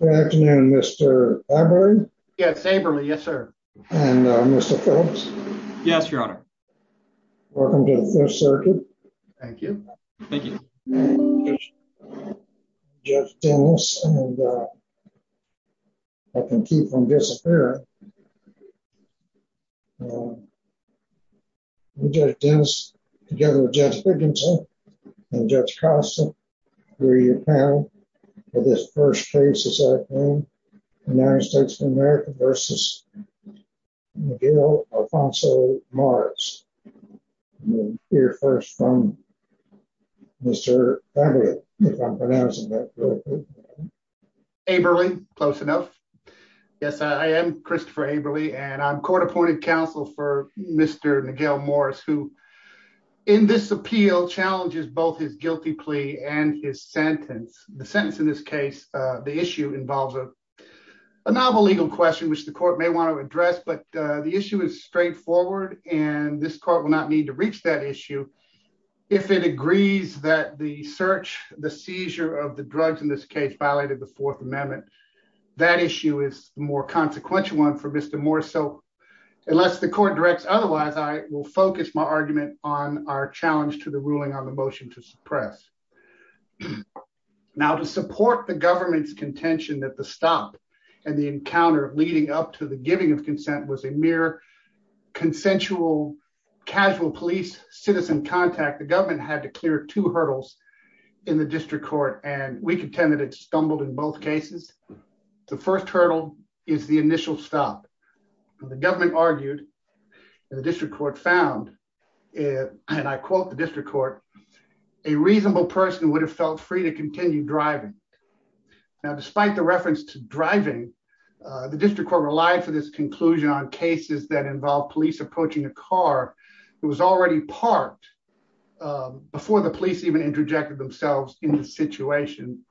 Good afternoon, Mr. Abberley. Yes, Abberley, yes sir. And Mr. Phillips. Yes, your honor. Welcome to the Fifth Circuit. Thank you. Thank you. Judge Dennis and I can keep from disappearing. Judge Dennis, together with Judge Higginson and Judge Costa, we are your panel for this first case. United States of America v. Miguel Alfonso Morris. We'll hear first from Mr. Abberley, if I'm pronouncing that correctly. Abberley, close enough. Yes, I am Christopher Abberley and I'm court appointed counsel for Mr. Miguel Morris, who in this appeal challenges both his guilty plea and his sentence. The sentence in this case, the issue involves a novel legal question which the court may want to address, but the issue is straightforward. And this court will not need to reach that issue if it agrees that the search, the seizure of the drugs in this case violated the Fourth Amendment. That issue is more consequential one for Mr. Morris. So unless the court directs otherwise, I will focus my argument on our challenge to the ruling on the motion to suppress. Now to support the government's contention that the stop and the encounter leading up to the giving of consent was a mere consensual casual police citizen contact, the government had to clear two hurdles in the district court. And we contend that it stumbled in both cases. The first hurdle is the initial stop. The government argued and the district court found, and I quote the district court, a reasonable person would have felt free to continue driving. Now, despite the reference to driving, the district court relied for this conclusion on cases that involve police approaching a car who was already parked before the police even interjected themselves in the situation.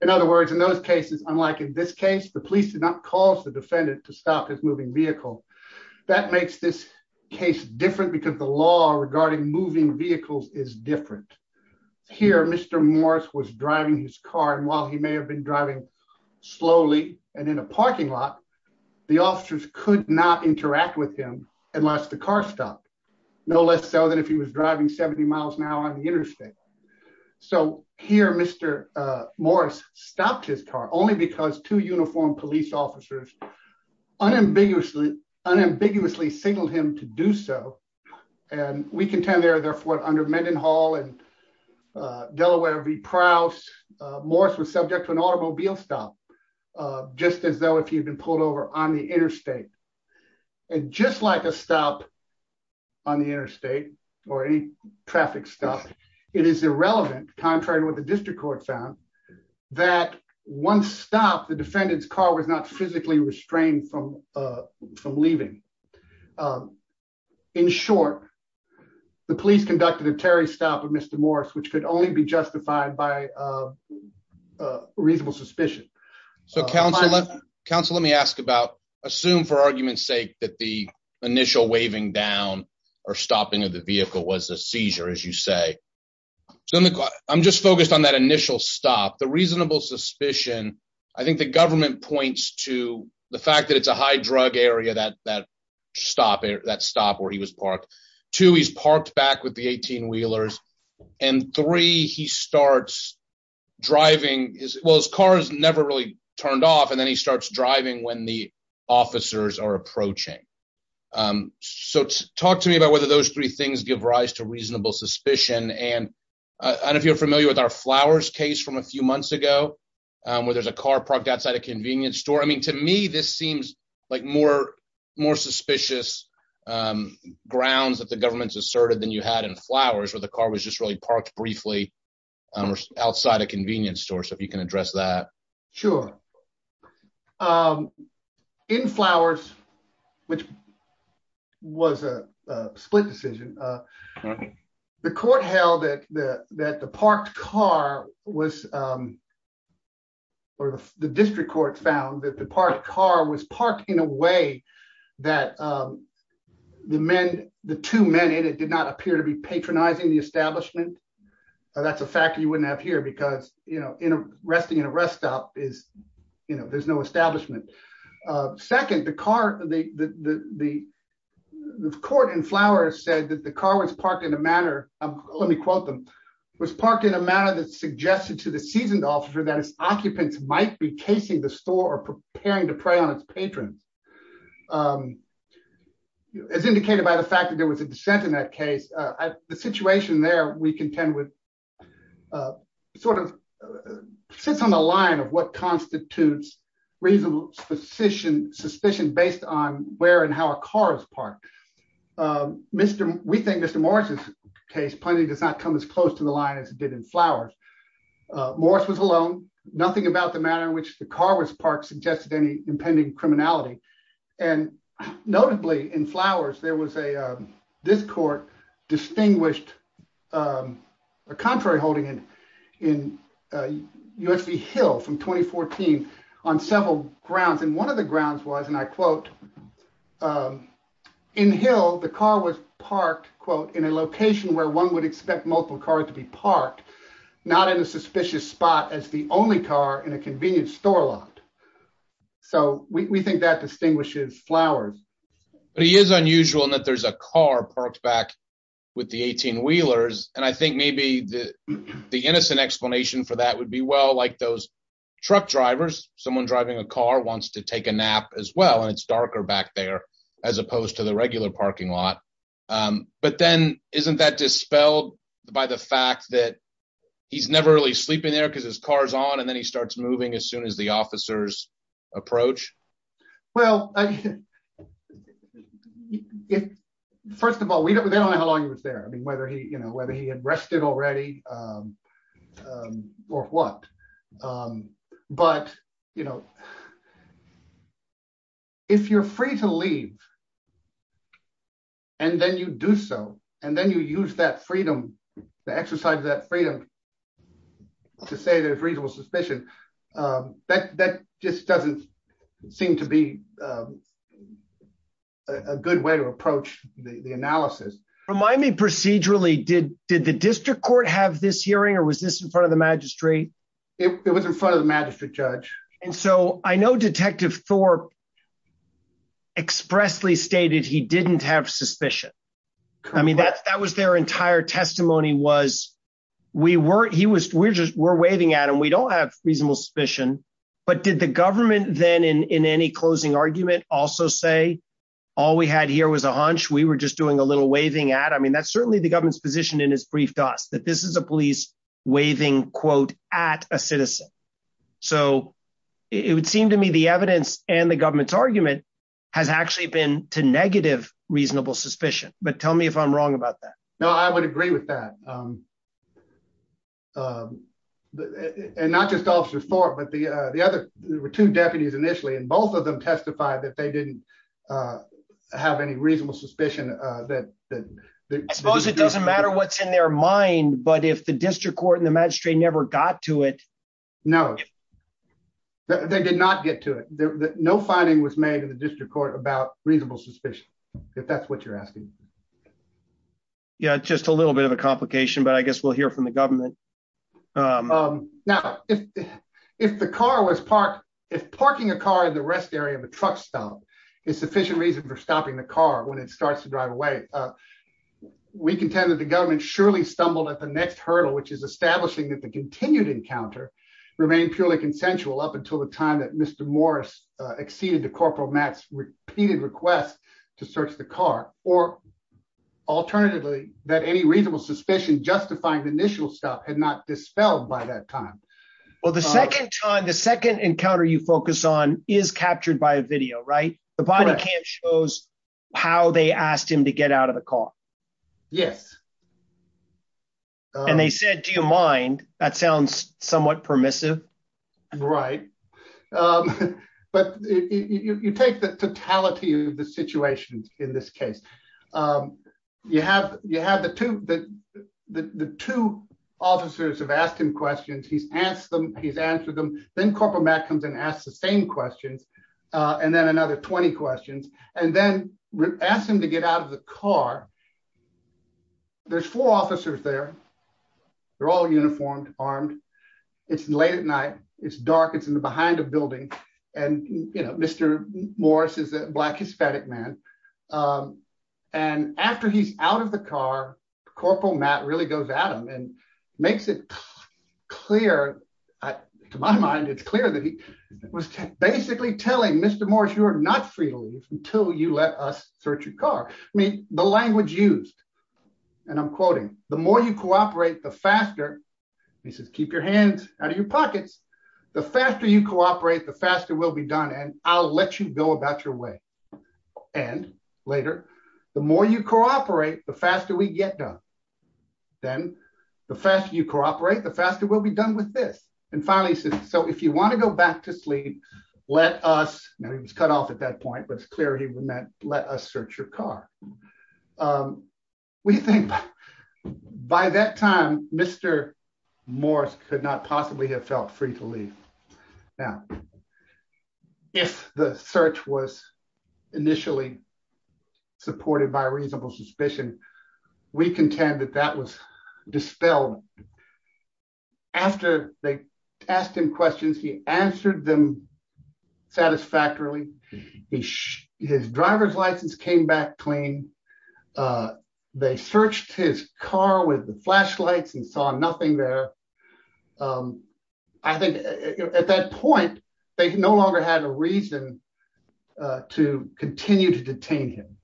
In other words, in those cases, unlike in this case, the police did not cause the defendant to stop his moving vehicle. That makes this case different because the law regarding moving vehicles is different. Here, Mr. Morris was driving his car and while he may have been driving slowly and in a parking lot, the officers could not interact with him unless the car stopped. No less so than if he was driving 70 miles an hour on the interstate. So here, Mr. Morris stopped his car only because two uniformed police officers unambiguously signaled him to do so. And we contend there, therefore, under Mendenhall and Delaware v. Prowse, Morris was subject to an automobile stop, just as though if he had been pulled over on the interstate. And just like a stop on the interstate or any traffic stop, it is irrelevant, contrary to what the district court found, that once stopped, the defendant's car was not physically restrained from leaving. In short, the police conducted a Terry stop of Mr. Morris, which could only be justified by reasonable suspicion. So, counsel, let me ask about, assume for argument's sake that the initial waving down or stopping of the vehicle was a seizure, as you say. I'm just focused on that initial stop. The reasonable suspicion, I think the government points to the fact that it's a high drug area, that stop where he was parked. Two, he's parked back with the 18 wheelers. And three, he starts driving. Well, his car has never really turned off. And then he starts driving when the officers are approaching. So talk to me about whether those three things give rise to reasonable suspicion. And if you're familiar with our flowers case from a few months ago, where there's a car parked outside a convenience store. I mean, to me, this seems like more more suspicious grounds that the government's asserted than you had in flowers where the car was just really parked briefly outside a convenience store. So if you can address that. Sure. In flowers, which was a split decision. The court held that the that the parked car was for the district court found that the park car was parked in a way that the men, the two men in it did not appear to be patronizing the establishment. That's a fact you wouldn't have here because, you know, in a resting in a rest stop is, you know, there's no establishment. Second, the car, the, the court and flowers said that the car was parked in a manner of, let me quote them was parked in a manner that suggested to the seasoned officer that his occupants might be casing the store preparing to prey on its patrons. As indicated by the fact that there was a dissent in that case, the situation there, we contend with sort of sits on the line of what constitutes reasonable position suspicion based on where and how a car is parked. Mr. We think Mr. Morris's case plenty does not come as close to the line as it did in flowers. Morris was alone, nothing about the manner in which the car was parked suggested any impending criminality, and notably in flowers there was a this court distinguished. Contrary holding in in USP Hill from 2014 on several grounds and one of the grounds was and I quote. In Hill, the car was parked quote in a location where one would expect multiple cars to be parked, not in a suspicious spot as the only car in a convenience store lot. So we think that distinguishes flowers. But he is unusual and that there's a car parked back with the 18 wheelers, and I think maybe the, the innocent explanation for that would be well like those truck drivers, someone driving a car wants to take a nap as well and it's darker back there, as opposed to the regular parking lot. But then, isn't that dispelled by the fact that he's never really sleeping there because his cars on and then he starts moving as soon as the officers approach. Well, first of all we don't know how long it was there I mean whether he you know whether he had rested already or what. But, you know, if you're free to leave. And then you do so, and then you use that freedom to exercise that freedom to say there's reasonable suspicion. That just doesn't seem to be a good way to approach the analysis. Remind me procedurally did, did the district court have this hearing or was this in front of the magistrate. It was in front of the magistrate judge. And so I know Detective Thor expressly stated he didn't have suspicion. I mean that that was their entire testimony was we weren't he was we're just we're waving at and we don't have reasonable suspicion. But did the government then in any closing argument, also say, all we had here was a hunch we were just doing a little waving at I mean that's certainly the government's position in his brief does that this is a police waving quote at a citizen. So, it would seem to me the evidence, and the government's argument has actually been to negative reasonable suspicion, but tell me if I'm wrong about that. No, I would agree with that. And not just officer for but the, the other two deputies initially and both of them testified that they didn't have any reasonable suspicion that that. I suppose it doesn't matter what's in their mind but if the district court and the magistrate never got to it. No, they did not get to it, no finding was made in the district court about reasonable suspicion. If that's what you're asking. Yeah, just a little bit of a complication but I guess we'll hear from the government. Now, if, if the car was parked, if parking a car in the rest area of a truck stop is sufficient reason for stopping the car when it starts to drive away. We contend that the government surely stumbled at the next hurdle which is establishing that the continued encounter remain purely consensual up until the time that Mr. Morris exceeded the corporal Max repeated request to search the car, or alternatively, that any reasonable suspicion justifying the initial stuff had not dispelled by that time. Well the second time the second encounter you focus on is captured by a video right the body cam shows how they asked him to get out of the car. Yes. And they said, Do you mind, that sounds somewhat permissive. Right. But you take the totality of the situation in this case. You have, you have the two that the two officers have asked him questions he's asked them, he's answered them, then corporate Matt comes and ask the same questions. And then another 20 questions, and then we asked him to get out of the car. There's four officers there. They're all uniformed armed. It's late at night, it's dark it's in the behind a building. And, you know, Mr. Morris is a black Hispanic man. And after he's out of the car. Corporal Matt really goes Adam and makes it clear to my mind it's clear that he was basically telling Mr. Morris you're not free to leave until you let us search your car. I mean, the language used. And I'm quoting, the more you cooperate, the faster. He says keep your hands out of your pockets. The faster you cooperate, the faster will be done and I'll let you go about your way. And later, the more you cooperate, the faster we get done. Then, the faster you cooperate, the faster will be done with this. And finally, so if you want to go back to sleep. Let us know he was cut off at that point but it's clear he meant, let us search your car. We think, by that time, Mr. Morris could not possibly have felt free to leave. Now, if the search was initially supported by reasonable suspicion. We contend that that was dispelled. After they asked him questions he answered them satisfactorily. His driver's license came back clean. They searched his car with the flashlights and saw nothing there. I think at that point, they can no longer have a reason to continue to detain him.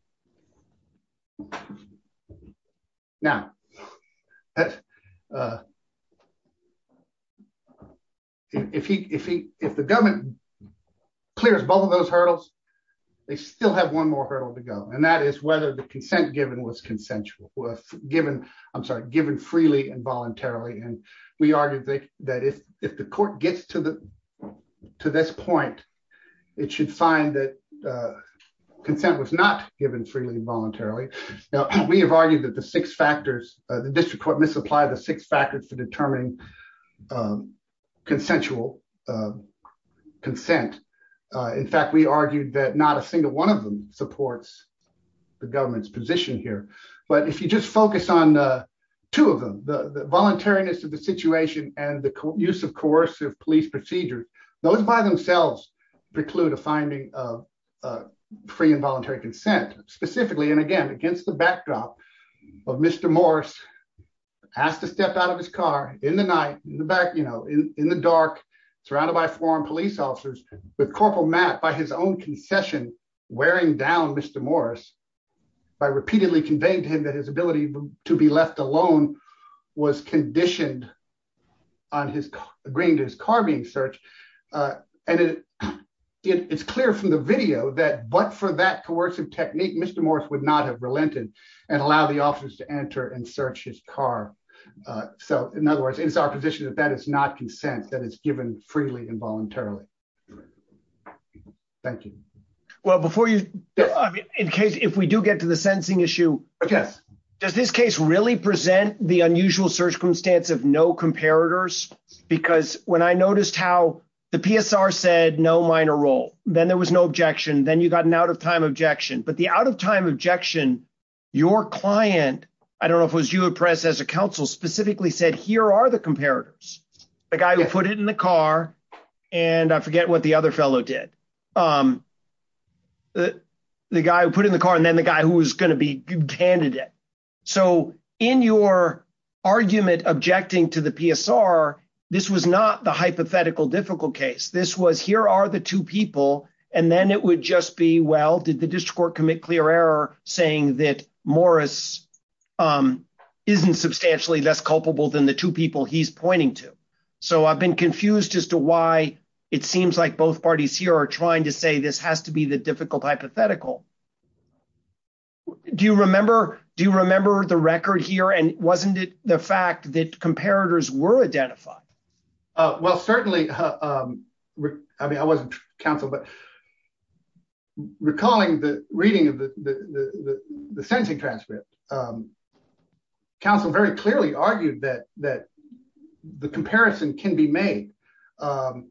Now, if he, if the government clears both of those hurdles. They still have one more hurdle to go and that is whether the consent given was consensual was given. I'm sorry, given freely and voluntarily and we argue that that if, if the court gets to the, to this point, it should find that consent was not given freely and voluntarily. Now, we have argued that the six factors, the district court misapplied the six factors for determining consensual consent. In fact, we argued that not a single one of them supports the government's position here, but if you just focus on two of them, the voluntariness of the situation, and the use of coercive police procedure, those by themselves preclude a finding of free and voluntary consent, specifically and again against the backdrop of Mr. Morris asked to step out of his car in the night in the back, you know, in the dark, surrounded by foreign police officers. With Corporal Matt by his own concession, wearing down Mr. Morris by repeatedly conveying to him that his ability to be left alone was conditioned on his agreeing to his car being searched. And it's clear from the video that but for that coercive technique Mr. Morris would not have relented and allow the officers to enter and search his car. So, in other words, it's our position that that is not consent that is given freely and voluntarily. Thank you. Well before you. In case if we do get to the sentencing issue. Yes. Does this case really present the unusual circumstance of no comparators, because when I noticed how the PSR said no minor role, then there was no objection then you got an out of time objection but the out of time objection. Your client. I don't know if it was you a press as a council specifically said here are the comparators, the guy who put it in the car. And I forget what the other fellow did the guy who put in the car and then the guy who was going to be candidate. So, in your argument objecting to the PSR. This was not the hypothetical difficult case this was here are the two people, and then it would just be well did the district court commit clear error, saying that Morris isn't substantially less culpable than the two people he's pointing to. So I've been confused as to why it seems like both parties here are trying to say this has to be the difficult hypothetical. Do you remember, do you remember the record here and wasn't it the fact that comparators were identified. Well, certainly. I mean I wasn't Council but recalling the reading of the, the, the, the sensing transcript. Council very clearly argued that that the comparison can be made. And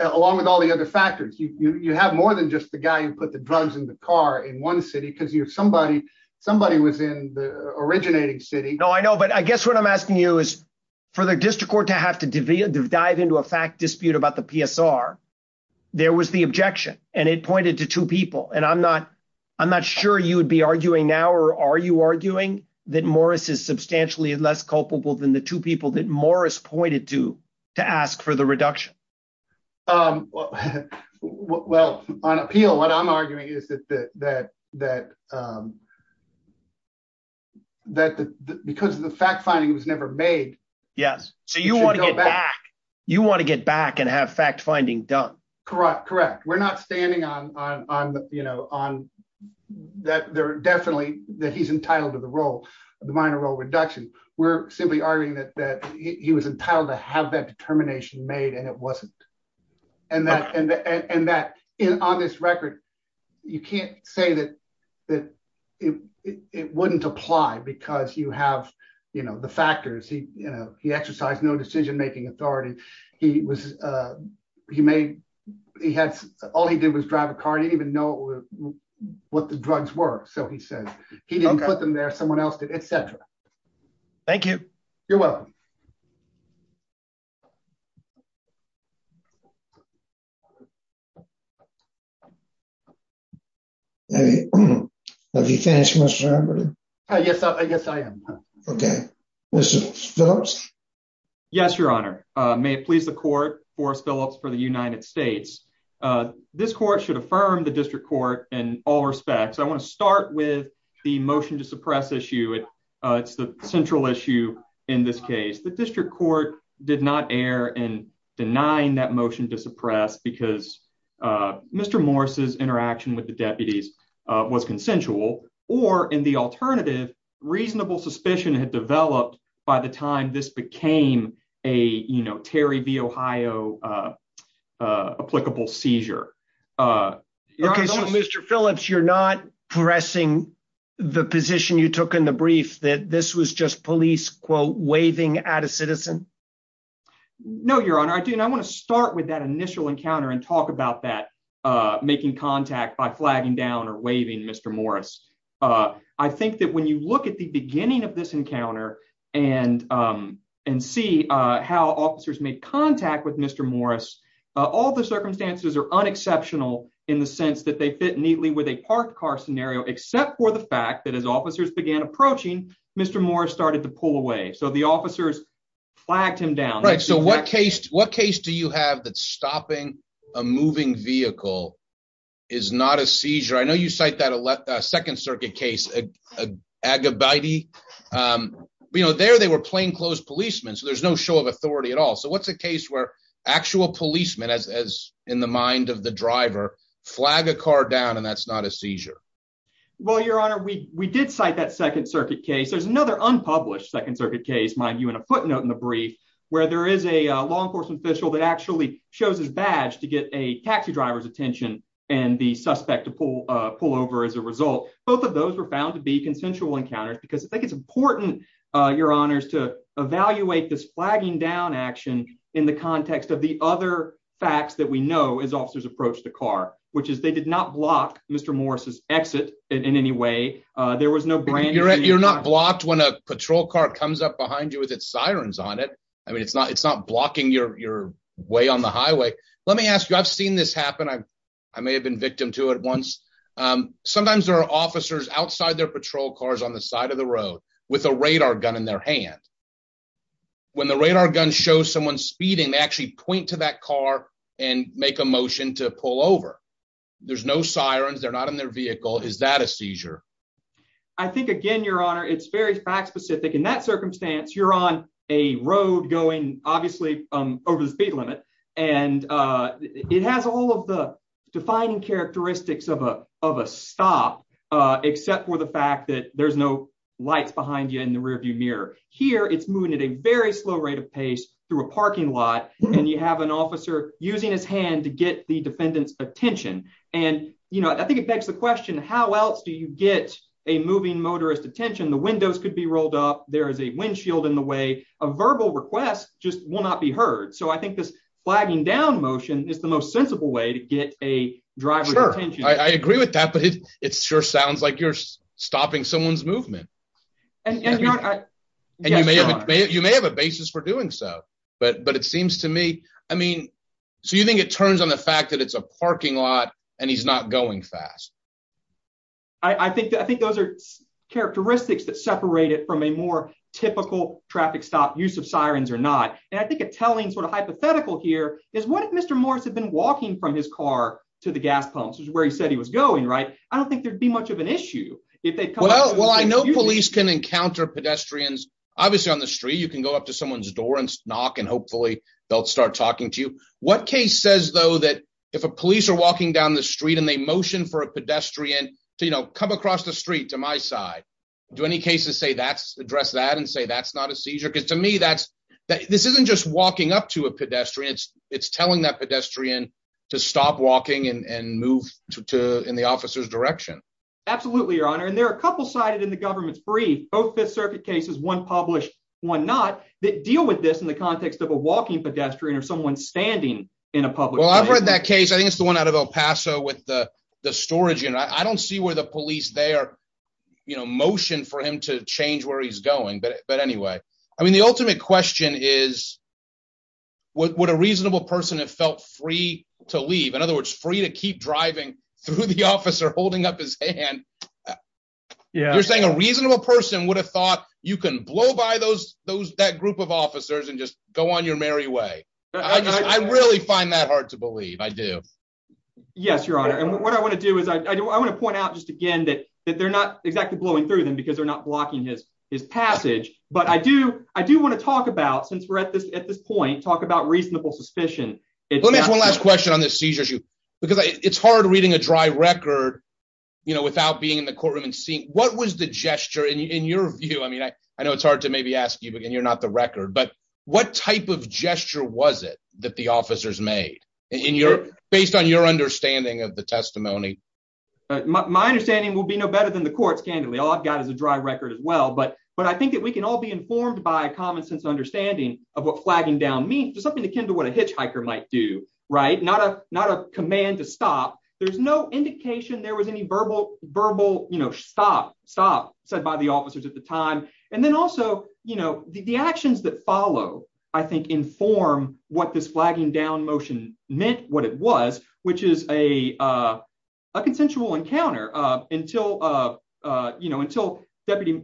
along with all the other factors you have more than just the guy who put the drugs in the car in one city because you're somebody, somebody was in the originating city. No, I know but I guess what I'm asking you is for the district court to have to dive into a fact dispute about the PSR. There was the objection, and it pointed to two people and I'm not, I'm not sure you'd be arguing now or are you arguing that Morris is substantially less culpable than the two people that Morris pointed to, to ask for the reduction. Um, well, on appeal what I'm arguing is that, that, that, that, because the fact finding was never made. Yes. So you want to go back. You want to get back and have fact finding done correct correct we're not standing on, on, you know, on that there definitely that he's entitled to the role of the minor role reduction, we're simply arguing that that he was entitled to have that determination made and it wasn't. And that, and that in on this record. You can't say that, that it wouldn't apply because you have, you know, the factors he, you know, he exercised no decision making authority. He was. He made. He had all he did was drive a car didn't even know what the drugs work so he said he didn't put them there someone else did etc. Thank you. You're welcome. Have you finished Mr. Yes, I guess I am. Okay. Yes, Your Honor, may it please the court for Phillips for the United States. This court should affirm the district court, and all respects I want to start with the motion to suppress issue it. It's the central issue in this case the district court did not air and denying that motion to suppress because Mr. Morris's interaction with the deputies was consensual, or in the alternative reasonable suspicion had developed. By the time this became a, you know, Terry V Ohio applicable seizure. Okay so Mr Phillips you're not pressing the position you took in the brief that this was just police quote waving at a citizen. No, Your Honor, I do not want to start with that initial encounter and talk about that, making contact by flagging down or waving Mr Morris. I think that when you look at the beginning of this encounter and and see how officers make contact with Mr Morris. All the circumstances are unexceptional in the sense that they fit neatly with a parked car scenario except for the fact that as officers began approaching Mr Morris started to pull away so the officers flagged him down right so what case, what case do you have that stopping a moving vehicle is not a seizure I know you cite that a second circuit case, a good buddy. You know there they were plainclothes policemen so there's no show of authority at all so what's the case where actual policemen as as in the mind of the driver flag a car down and that's not a seizure. Well, Your Honor, we, we did cite that second circuit case there's another unpublished second circuit case mind you in a footnote in the brief, where there is a law enforcement official that actually shows his badge to get a taxi driver's attention, and the suspect to pull, pull over as a result. Both of those were found to be consensual encounters because I think it's important. Your Honors to evaluate this flagging down action in the context of the other facts that we know is officers approach the car, which is they did not block, Mr Morris's exit in any way. There was no brand you're at you're not blocked when a patrol car comes up behind you with it sirens on it. I mean it's not it's not blocking your way on the highway. Let me ask you, I've seen this happen I, I may have been victim to it once. Sometimes there are officers outside their patrol cars on the side of the road with a radar gun in their hand. When the radar gun show someone speeding actually point to that car and make a motion to pull over. There's no sirens they're not in their vehicle is that a seizure. I think again Your Honor it's very fact specific in that circumstance you're on a road going, obviously, over the speed limit, and it has all of the defining characteristics of a, of a stop, except for the fact that there's no lights behind you in the rearview mirror here it's moving at a very slow rate of pace through a parking lot, and you have an officer, using his hand to get the defendants attention. And, you know, I think it begs the question how else do you get a moving motorist attention the windows could be rolled up, there is a windshield in the way of verbal requests, just will not be heard so I think this flagging down motion is the most sensible way to get a driver. I agree with that but it's sure sounds like you're stopping someone's movement. And you may have a basis for doing so, but but it seems to me, I mean, so you think it turns on the fact that it's a parking lot, and he's not going fast. I think that I think those are characteristics that separate it from a more typical traffic stop use of sirens or not, and I think a telling sort of hypothetical here is what if Mr. Morris have been walking from his car to the gas pumps is where he said he was going right, I don't think there'd be much of an issue. If they come out well I know police can encounter pedestrians, obviously on the street you can go up to someone's pedestrian, you know, come across the street to my side. Do any cases say that's address that and say that's not a seizure because to me that's that this isn't just walking up to a pedestrian, it's, it's telling that pedestrian to stop walking and move to in the officer's direction. Absolutely, your honor and there are a couple cited in the government's brief both the circuit cases one published one not that deal with this in the context of a walking pedestrian or someone standing in a public Well I've read that case I think it's the one out of El Paso with the, the storage and I don't see where the police they are, you know, motion for him to change where he's going but but anyway, I mean the ultimate question is what a reasonable person have felt free to leave in other words free to keep driving through the officer holding up his hand. Yeah, you're saying a reasonable person would have thought you can blow by those, those that group of officers and just go on your merry way. I really find that hard to believe I do. Yes, your honor and what I want to do is I want to point out just again that that they're not exactly blowing through them because they're not blocking his his passage, but I do, I do want to talk about since we're at this at this point talk about reasonable suspicion. Let me ask one last question on this seizure issue, because it's hard reading a dry record. You know, without being in the courtroom and seeing what was the gesture in your view I mean I, I know it's hard to maybe ask you but then you're not the record but what type of gesture was it that the officers made in your based on your understanding of the testimony. My understanding will be no better than the courts candidly all I've got is a dry record as well but but I think that we can all be informed by a common sense understanding of what flagging down mean something akin to what a hitchhiker might do right not a not a command to stop. There's no indication there was any verbal verbal, you know, stop, stop, said by the officers at the time. And then also, you know, the actions that follow. I think inform what this flagging down motion meant what it was, which is a consensual encounter until, you know, until deputy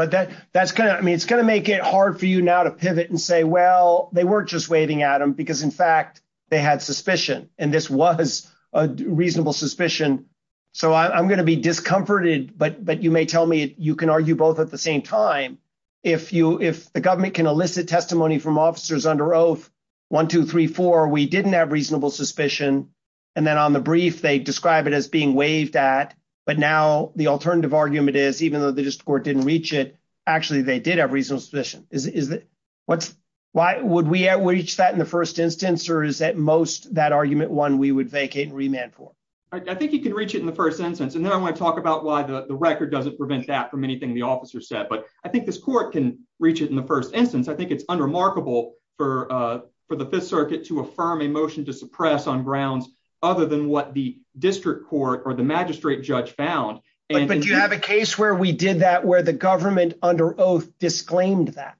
But that, that's kind of me it's going to make it hard for you now to pivot and say well they weren't just waiting Adam because in fact they had suspicion, and this was a reasonable suspicion. So I'm going to be discomforted but but you may tell me you can argue both at the same time. If you if the government can elicit testimony from officers under oath 1234 we didn't have reasonable suspicion. And then on the brief they describe it as being waived at, but now the alternative argument is even though the court didn't reach it. Actually, they did have reasonable suspicion is that what's why would we reach that in the first instance or is that most that argument one we would vacate remand for. I think you can reach it in the first sentence and then I want to talk about why the record doesn't prevent that from anything the officer said but I think this court can reach it in the first instance I think it's unremarkable for for the Fifth Circuit to affirm a motion to suppress on grounds, other than what the district court or the magistrate judge found. And you have a case where we did that where the government under oath disclaimed that.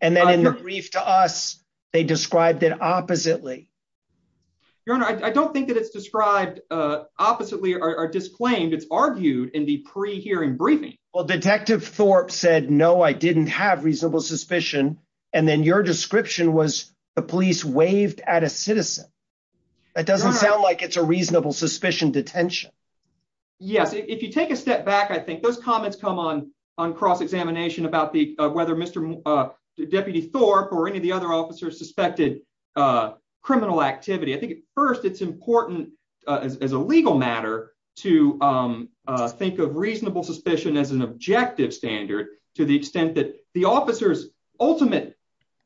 And then in the brief to us. They described it oppositely. Your Honor, I don't think that it's described oppositely or disclaimed it's argued in the pre hearing briefing. Well, Detective Thorpe said no I didn't have reasonable suspicion. And then your description was the police waived at a citizen. It doesn't sound like it's a reasonable suspicion detention. Yes, if you take a step back I think those comments come on on cross examination about the whether Mr. Deputy Thorpe or any of the other officers suspected criminal activity I think first it's important as a legal matter to think of reasonable suspicion as an objective standard, to the extent that the officers ultimate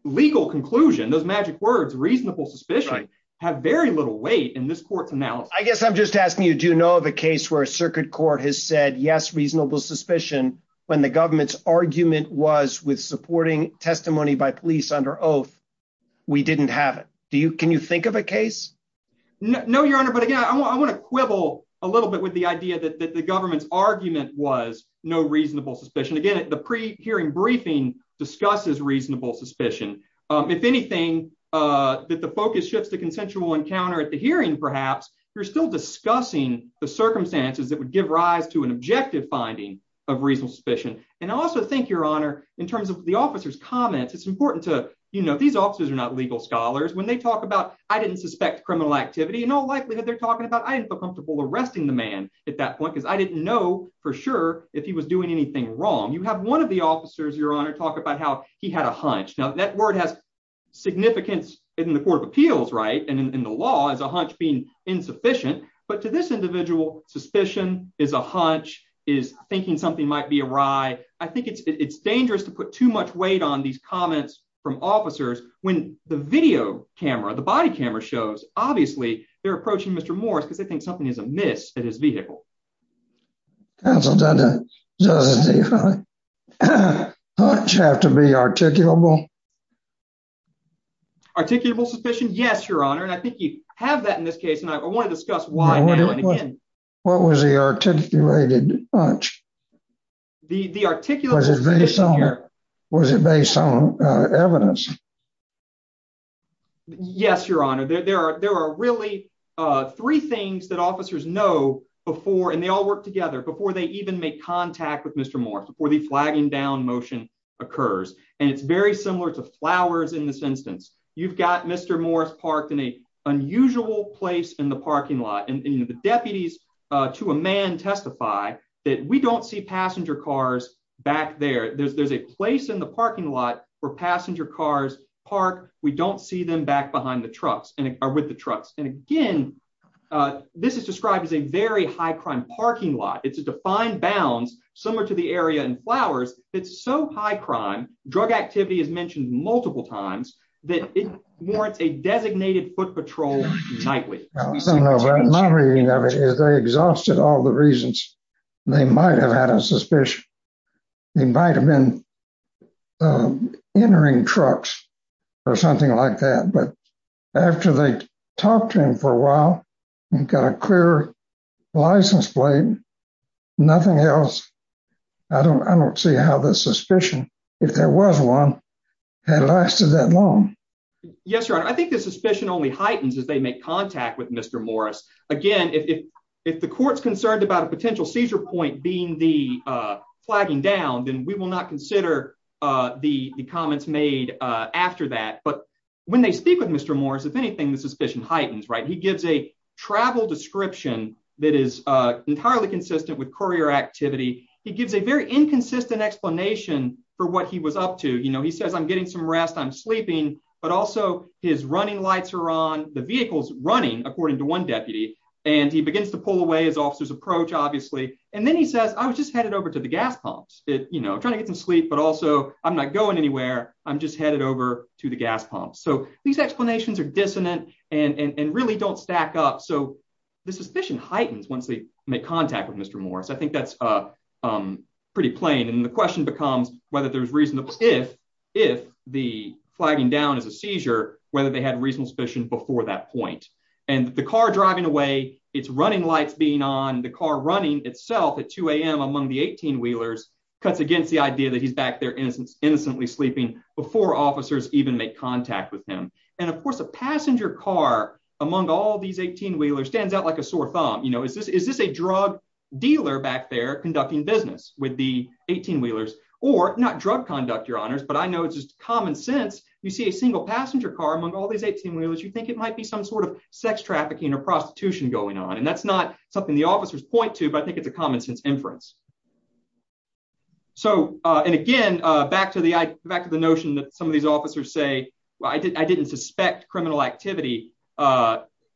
legal conclusion those magic words reasonable suspicion have very little weight in this court's mouth. I guess I'm just asking you do know the case where a circuit court has said yes reasonable suspicion when the government's argument was with supporting testimony by police under oath. We didn't have it. Do you can you think of a case. No, Your Honor, but again I want to quibble a little bit with the idea that the government's argument was no reasonable suspicion again at the pre hearing briefing discusses reasonable suspicion. If anything, that the focus shifts the consensual encounter at the hearing perhaps you're still discussing the circumstances that would give rise to an objective finding of reasonable suspicion, and also thank your honor, in terms of the officers comments it's important to, you know, these officers are not legal scholars when they talk about, I didn't suspect criminal activity and all likelihood they're talking about I didn't feel comfortable arresting the man at that point because I didn't know for sure if he was doing anything wrong you have one of the officers Your Honor talk about how he had a hunch now that word has significance in the Court of Appeals right and in the law as a hunch being insufficient, but to this individual suspicion is a hunch is thinking something might be a ride. I think it's it's dangerous to put too much weight on these comments from officers, when the video camera the body camera shows, obviously, they're approaching Mr Morris because I think something is amiss at his vehicle. So, you have to be articulable articulable suspicion Yes, Your Honor, and I think you have that in this case and I want to discuss why. What was the articulated the articulation here. Was it based on evidence. Yes, Your Honor, there are there are really three things that officers know before and they all work together before they even make contact with Mr Morris before the flagging down motion occurs, and it's very similar to flowers in this instance, you've got Mr Morris parked in a unusual place in the parking lot and the deputies to a man testify that we don't see passenger cars back there there's there's a place in the parking lot for passenger cars park, we don't see them back behind the trucks and with the trucks and again, this is described as a very high crime parking lot it's a defined bounds, similar to the area and flowers, it's so high crime drug activity is mentioned multiple times that it warrants a designated foot patrol nightly I don't know about my reading of it is they exhausted all the reasons they might have had a suspicion. They might have been entering trucks, or something like that but after they talked to him for a while and got a clear license plate. Nothing else. I don't I don't see how the suspicion. If there was one had lasted that long. Yes, Your Honor, I think the suspicion only heightens as they make contact with Mr Morris. Again, if, if the courts concerned about a potential seizure point being the flagging down then we will not consider the comments made after that but when they speak with Mr Morris if anything the suspicion heightens right he gives a travel description that is entirely consistent with courier activity, he gives a very inconsistent explanation for what he was up to you know he says I'm getting some rest I'm sleeping, but also his explanations are dissonant and really don't stack up so the suspicion heightens once they make contact with Mr Morris I think that's a pretty plain and the question becomes, whether there's reason to if, if the flagging down as a seizure, whether they had a passenger car, among all these 18 wheeler stands out like a sore thumb you know is this is this a drug dealer back there conducting business with the 18 wheelers, or not drug conduct your honors but I know it's just common sense, you see a single passenger car among all these 18 wheelers you think it might be some sort of sex trafficking or prostitution going on and that's not something the officers point to but I think it's a common sense inference. So, and again, back to the back of the notion that some of these officers say, I didn't I didn't suspect criminal activity.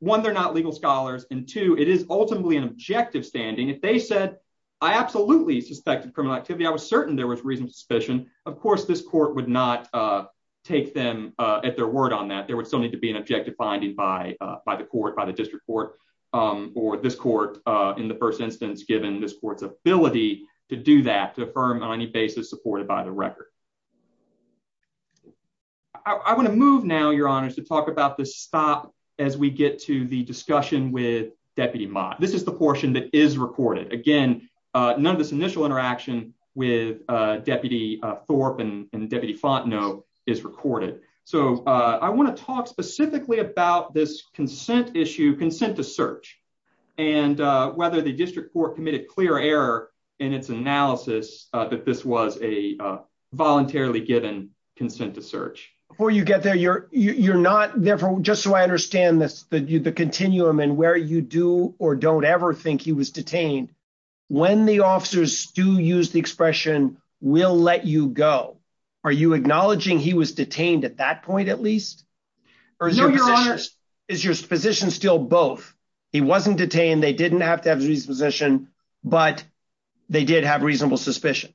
One they're not legal scholars and to it is ultimately an objective standing if they said I absolutely suspected criminal activity, I was certain there was reason suspicion, of course, this court would not take them at their word on that there would still need to be an objective finding by by the court by the district court, or this court in the first instance given this court's ability to do that to affirm on any basis supported by the record. I want to move now your honors to talk about this stop, as we get to the discussion with Deputy Mike this is the portion that is recorded again. None of this initial interaction with Deputy Thorpe and Deputy font know is recorded, so I want to talk specifically about this consent issue consent to search. And whether the district for committed clear error in its analysis that this was a voluntarily given consent to search for you get there you're, you're not there for just so I understand this, the continuum and where you do or don't ever think he was detained. When the officers do use the expression will let you go. Are you acknowledging he was detained at that point at least. Is your position still both. He wasn't detained they didn't have to have his position, but they did have reasonable suspicion.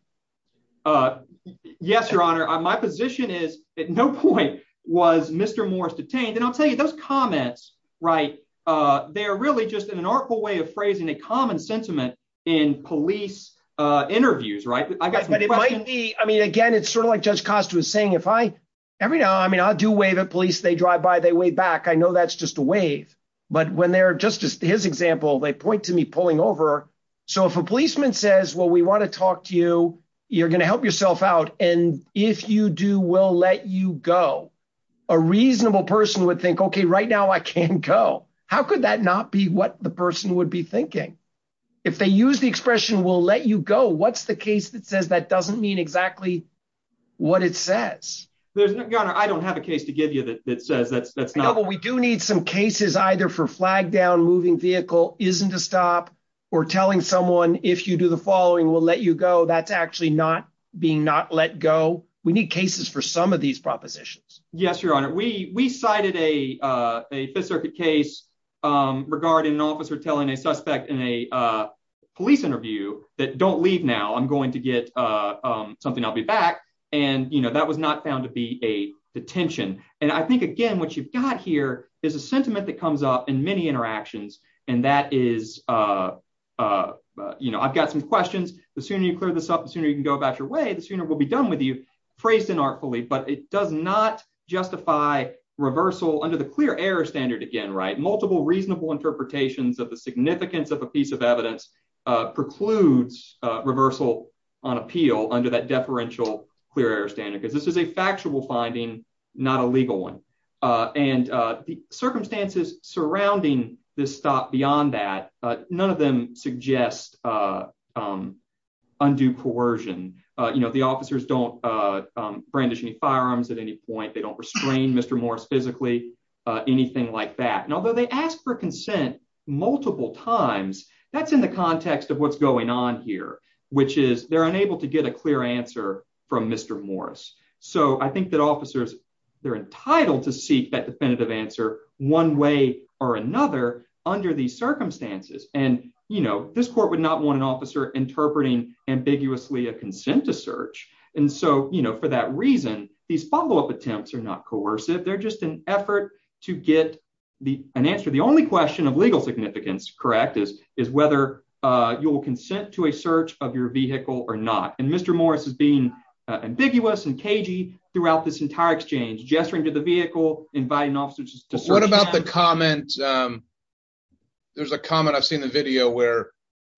Yes, Your Honor, my position is, at no point was Mr Morris detained and I'll tell you those comments right there really just in an article way of phrasing a common sentiment in police interviews right I got. But it might be, I mean again it's sort of like just cost was saying if I every now I mean I'll do wave at police they drive by they way back I know that's just a wave. But when they're just as his example they point to me pulling over. So if a policeman says well we want to talk to you, you're going to help yourself out, and if you do will let you go. A reasonable person would think okay right now I can't go. How could that not be what the person would be thinking, if they use the expression will let you go what's the case that says that doesn't mean exactly what it says. I don't have a case to give you that says that's that's not what we do need some cases either for flagged down moving vehicle isn't a stop or telling someone, if you do the following will let you go that's actually not being not let go. We need cases for some of these propositions. Yes, Your Honor, we we cited a fifth circuit case regarding an officer telling a suspect in a police interview that don't leave now I'm going to get something I'll be back. And, you know, that was not found to be a detention, and I think again what you've got here is a sentiment that comes up in many interactions, and that is a, you know, I've got some questions, the sooner you clear this up the sooner you can go about your way the sooner will be done with you phrased and artfully but it does not justify reversal under the clear air standard again right multiple reasonable interpretations of the significance of a piece of evidence precludes reversal on appeal under that deferential clear air standard because this is a factual finding, not a legal one, and the circumstances surrounding this stop beyond that, none of them suggest undue coercion, you know the officers don't brandish any firearms at any point they don't restrain Mr Morris physically anything like that and although they asked for consent, multiple times, that's in the context of what's going on here, which is they're unable to get a clear answer from Mr Morris, so I think that officers, they're entitled to seek that definitive answer, one way or another, under the circumstances, and, you know, this court would not want an officer interpreting ambiguously a consent to search. And so, you know, for that reason, these follow up attempts are not coercive they're just an effort to get the answer the only question of legal significance correct is, is whether you will consent to a search of your vehicle or not and Mr Morris has been ambiguous and cagey throughout this entire exchange gesturing to the vehicle, inviting officers to What about the comment. There's a comment I've seen the video where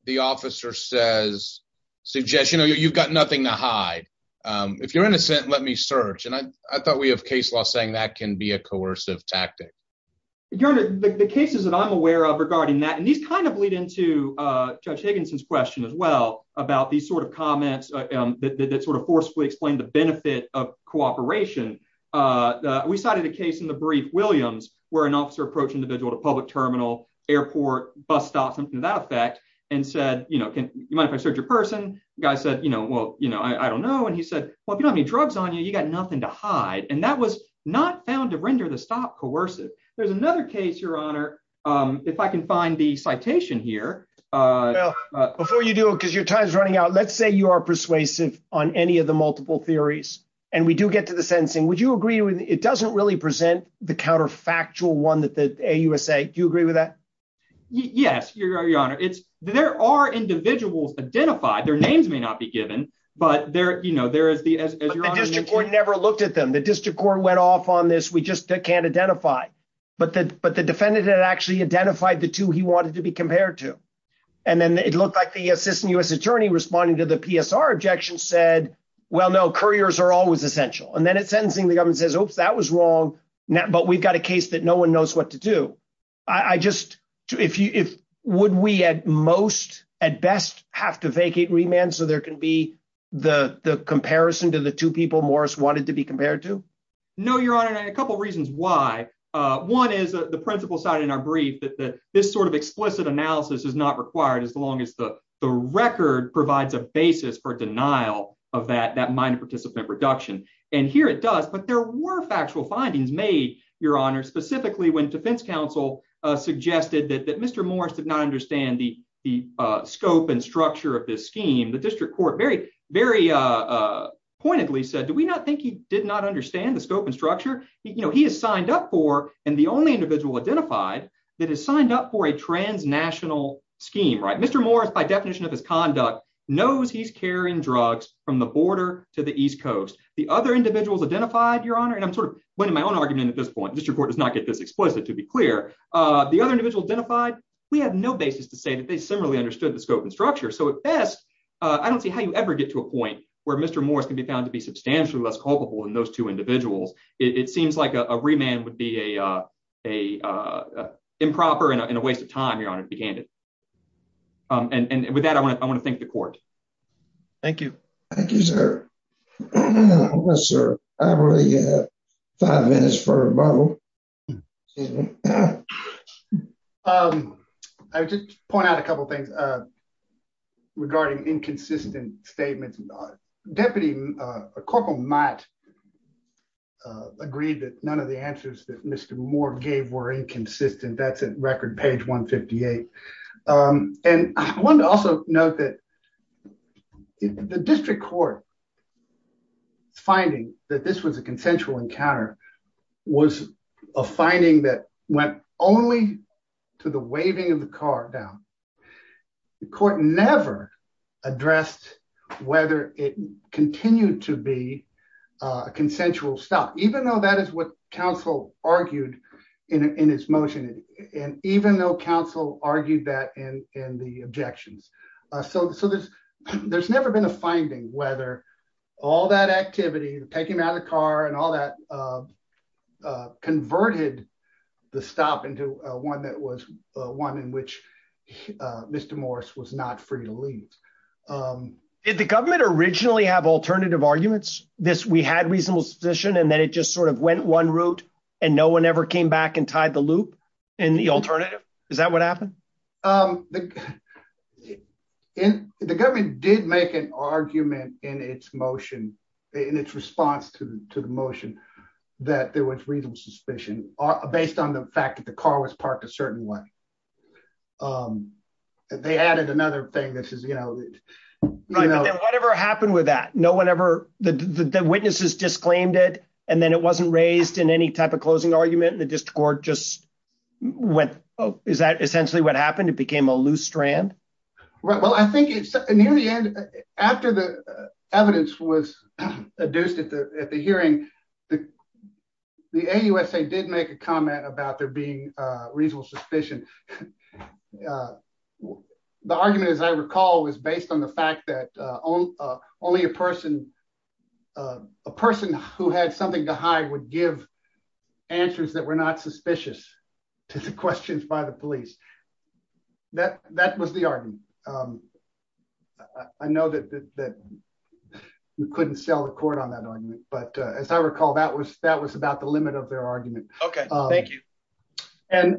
the officer says suggestion or you've got nothing to hide. If you're innocent, let me search and I thought we have case law saying that can be a coercive tactic. The cases that I'm aware of regarding that and these kind of lead into Judge Higginson's question as well about these sort of comments that sort of forcefully explain the benefit of cooperation. We cited a case in the brief Williams, where an officer approach individual to public terminal airport bus stop something to that effect, and said, you know, can you mind if I search your person guy said you know well you know I don't know and he said, well if you don't have any drugs on you you got nothing to hide and that was not found to render the stop coercive. There's another case Your Honor. If I can find the citation here. Before you do it because your time is running out. Let's say you are persuasive on any of the multiple theories, and we do get to the sentencing, would you agree with it doesn't really present the counterfactual one that the USA. Do you agree with that. Yes, Your Honor, it's, there are individuals identified their names may not be given, but there you know there is the district court never looked at them the district court went off on this we just can't identify. But the, but the defendant had actually identified the two he wanted to be compared to. And then it looked like the assistant US attorney responding to the PSR objection said, well no couriers are always essential and then it's sentencing the government says oops that was wrong. Now, but we've got a case that no one knows what to do. I just, if you if, would we at most, at best, have to vacate remand so there can be the comparison to the two people Morris wanted to be compared to. No, Your Honor, a couple reasons why. One is the principal side in our brief that this sort of explicit analysis is not required as long as the record provides a basis for denial of that that minor participant reduction, and here it does but there were factual findings made, Your Honor, specifically when defense counsel suggested that Mr. Morris did not understand the, the scope and structure of this scheme the district court very, very pointedly said do we not think he did not understand the scope and structure, you know he has signed up for, and the only individual identified that has signed up for a transnational scheme right Mr Morris by definition of his conduct knows he's carrying drugs from the border to the east coast, the other individuals identified, Your Honor, and I'm sort of winning my own argument at this point just report does not get this explicit to be clear. The other individual identified, we have no basis to say that they similarly understood the scope and structure so at best. I don't see how you ever get to a point where Mr Morris can be found to be substantially less culpable in those two individuals, it seems like a remand would be a, a improper and a waste of time you're on it began to. And with that I want to, I want to thank the court. Thank you. Thank you, sir. Sir, I'm really five minutes for. Hello. I just point out a couple things. Regarding inconsistent statements not deputy corporal Matt agreed that none of the answers that Mr Moore gave were inconsistent that's a record page 158. And one also note that the district court finding that this was a consensual encounter was a finding that went only to the waving of the car down the court never addressed, whether it continued to be a consensual stuff, even though that is what the council argued that and and the objections. So, so there's, there's never been a finding whether all that activity, take him out of the car and all that converted the stop into one that was one in which Mr Morris was not free to leave. If the government originally have alternative arguments, this we had reasonable suspicion and then it just sort of went one route, and no one ever came back and tied the loop, and the alternative. Is that what happened in the government did make an argument in its motion in its response to the motion that there was reasonable suspicion, based on the fact that the car was parked a certain way. They added another thing that says, you know, whatever happened with that no one ever the witnesses disclaimed it, and then it wasn't raised in any type of closing argument and the discord just went. Is that essentially what happened it became a loose strand. Right, well I think it's near the end. After the evidence was adduced at the hearing, the, the USA did make a comment about there being reasonable suspicion. The argument is I recall was based on the fact that only a person, a person who had something to hide would give answers that were not suspicious to the questions by the police. That, that was the argument. I know that you couldn't sell the court on that argument, but as I recall that was that was about the limit of their argument. Okay, thank you. And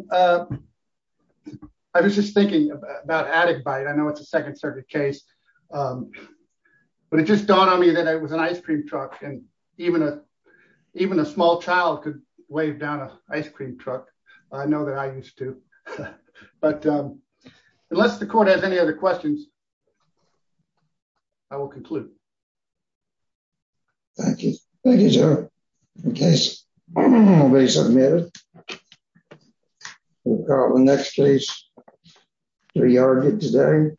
I was just thinking about added by I know it's a second circuit case. But it just dawned on me that it was an ice cream truck and even a, even a small child could wave down an ice cream truck. I know that I used to. But unless the court has any other questions. I will conclude. Thank you. Okay. Next case. We are good today.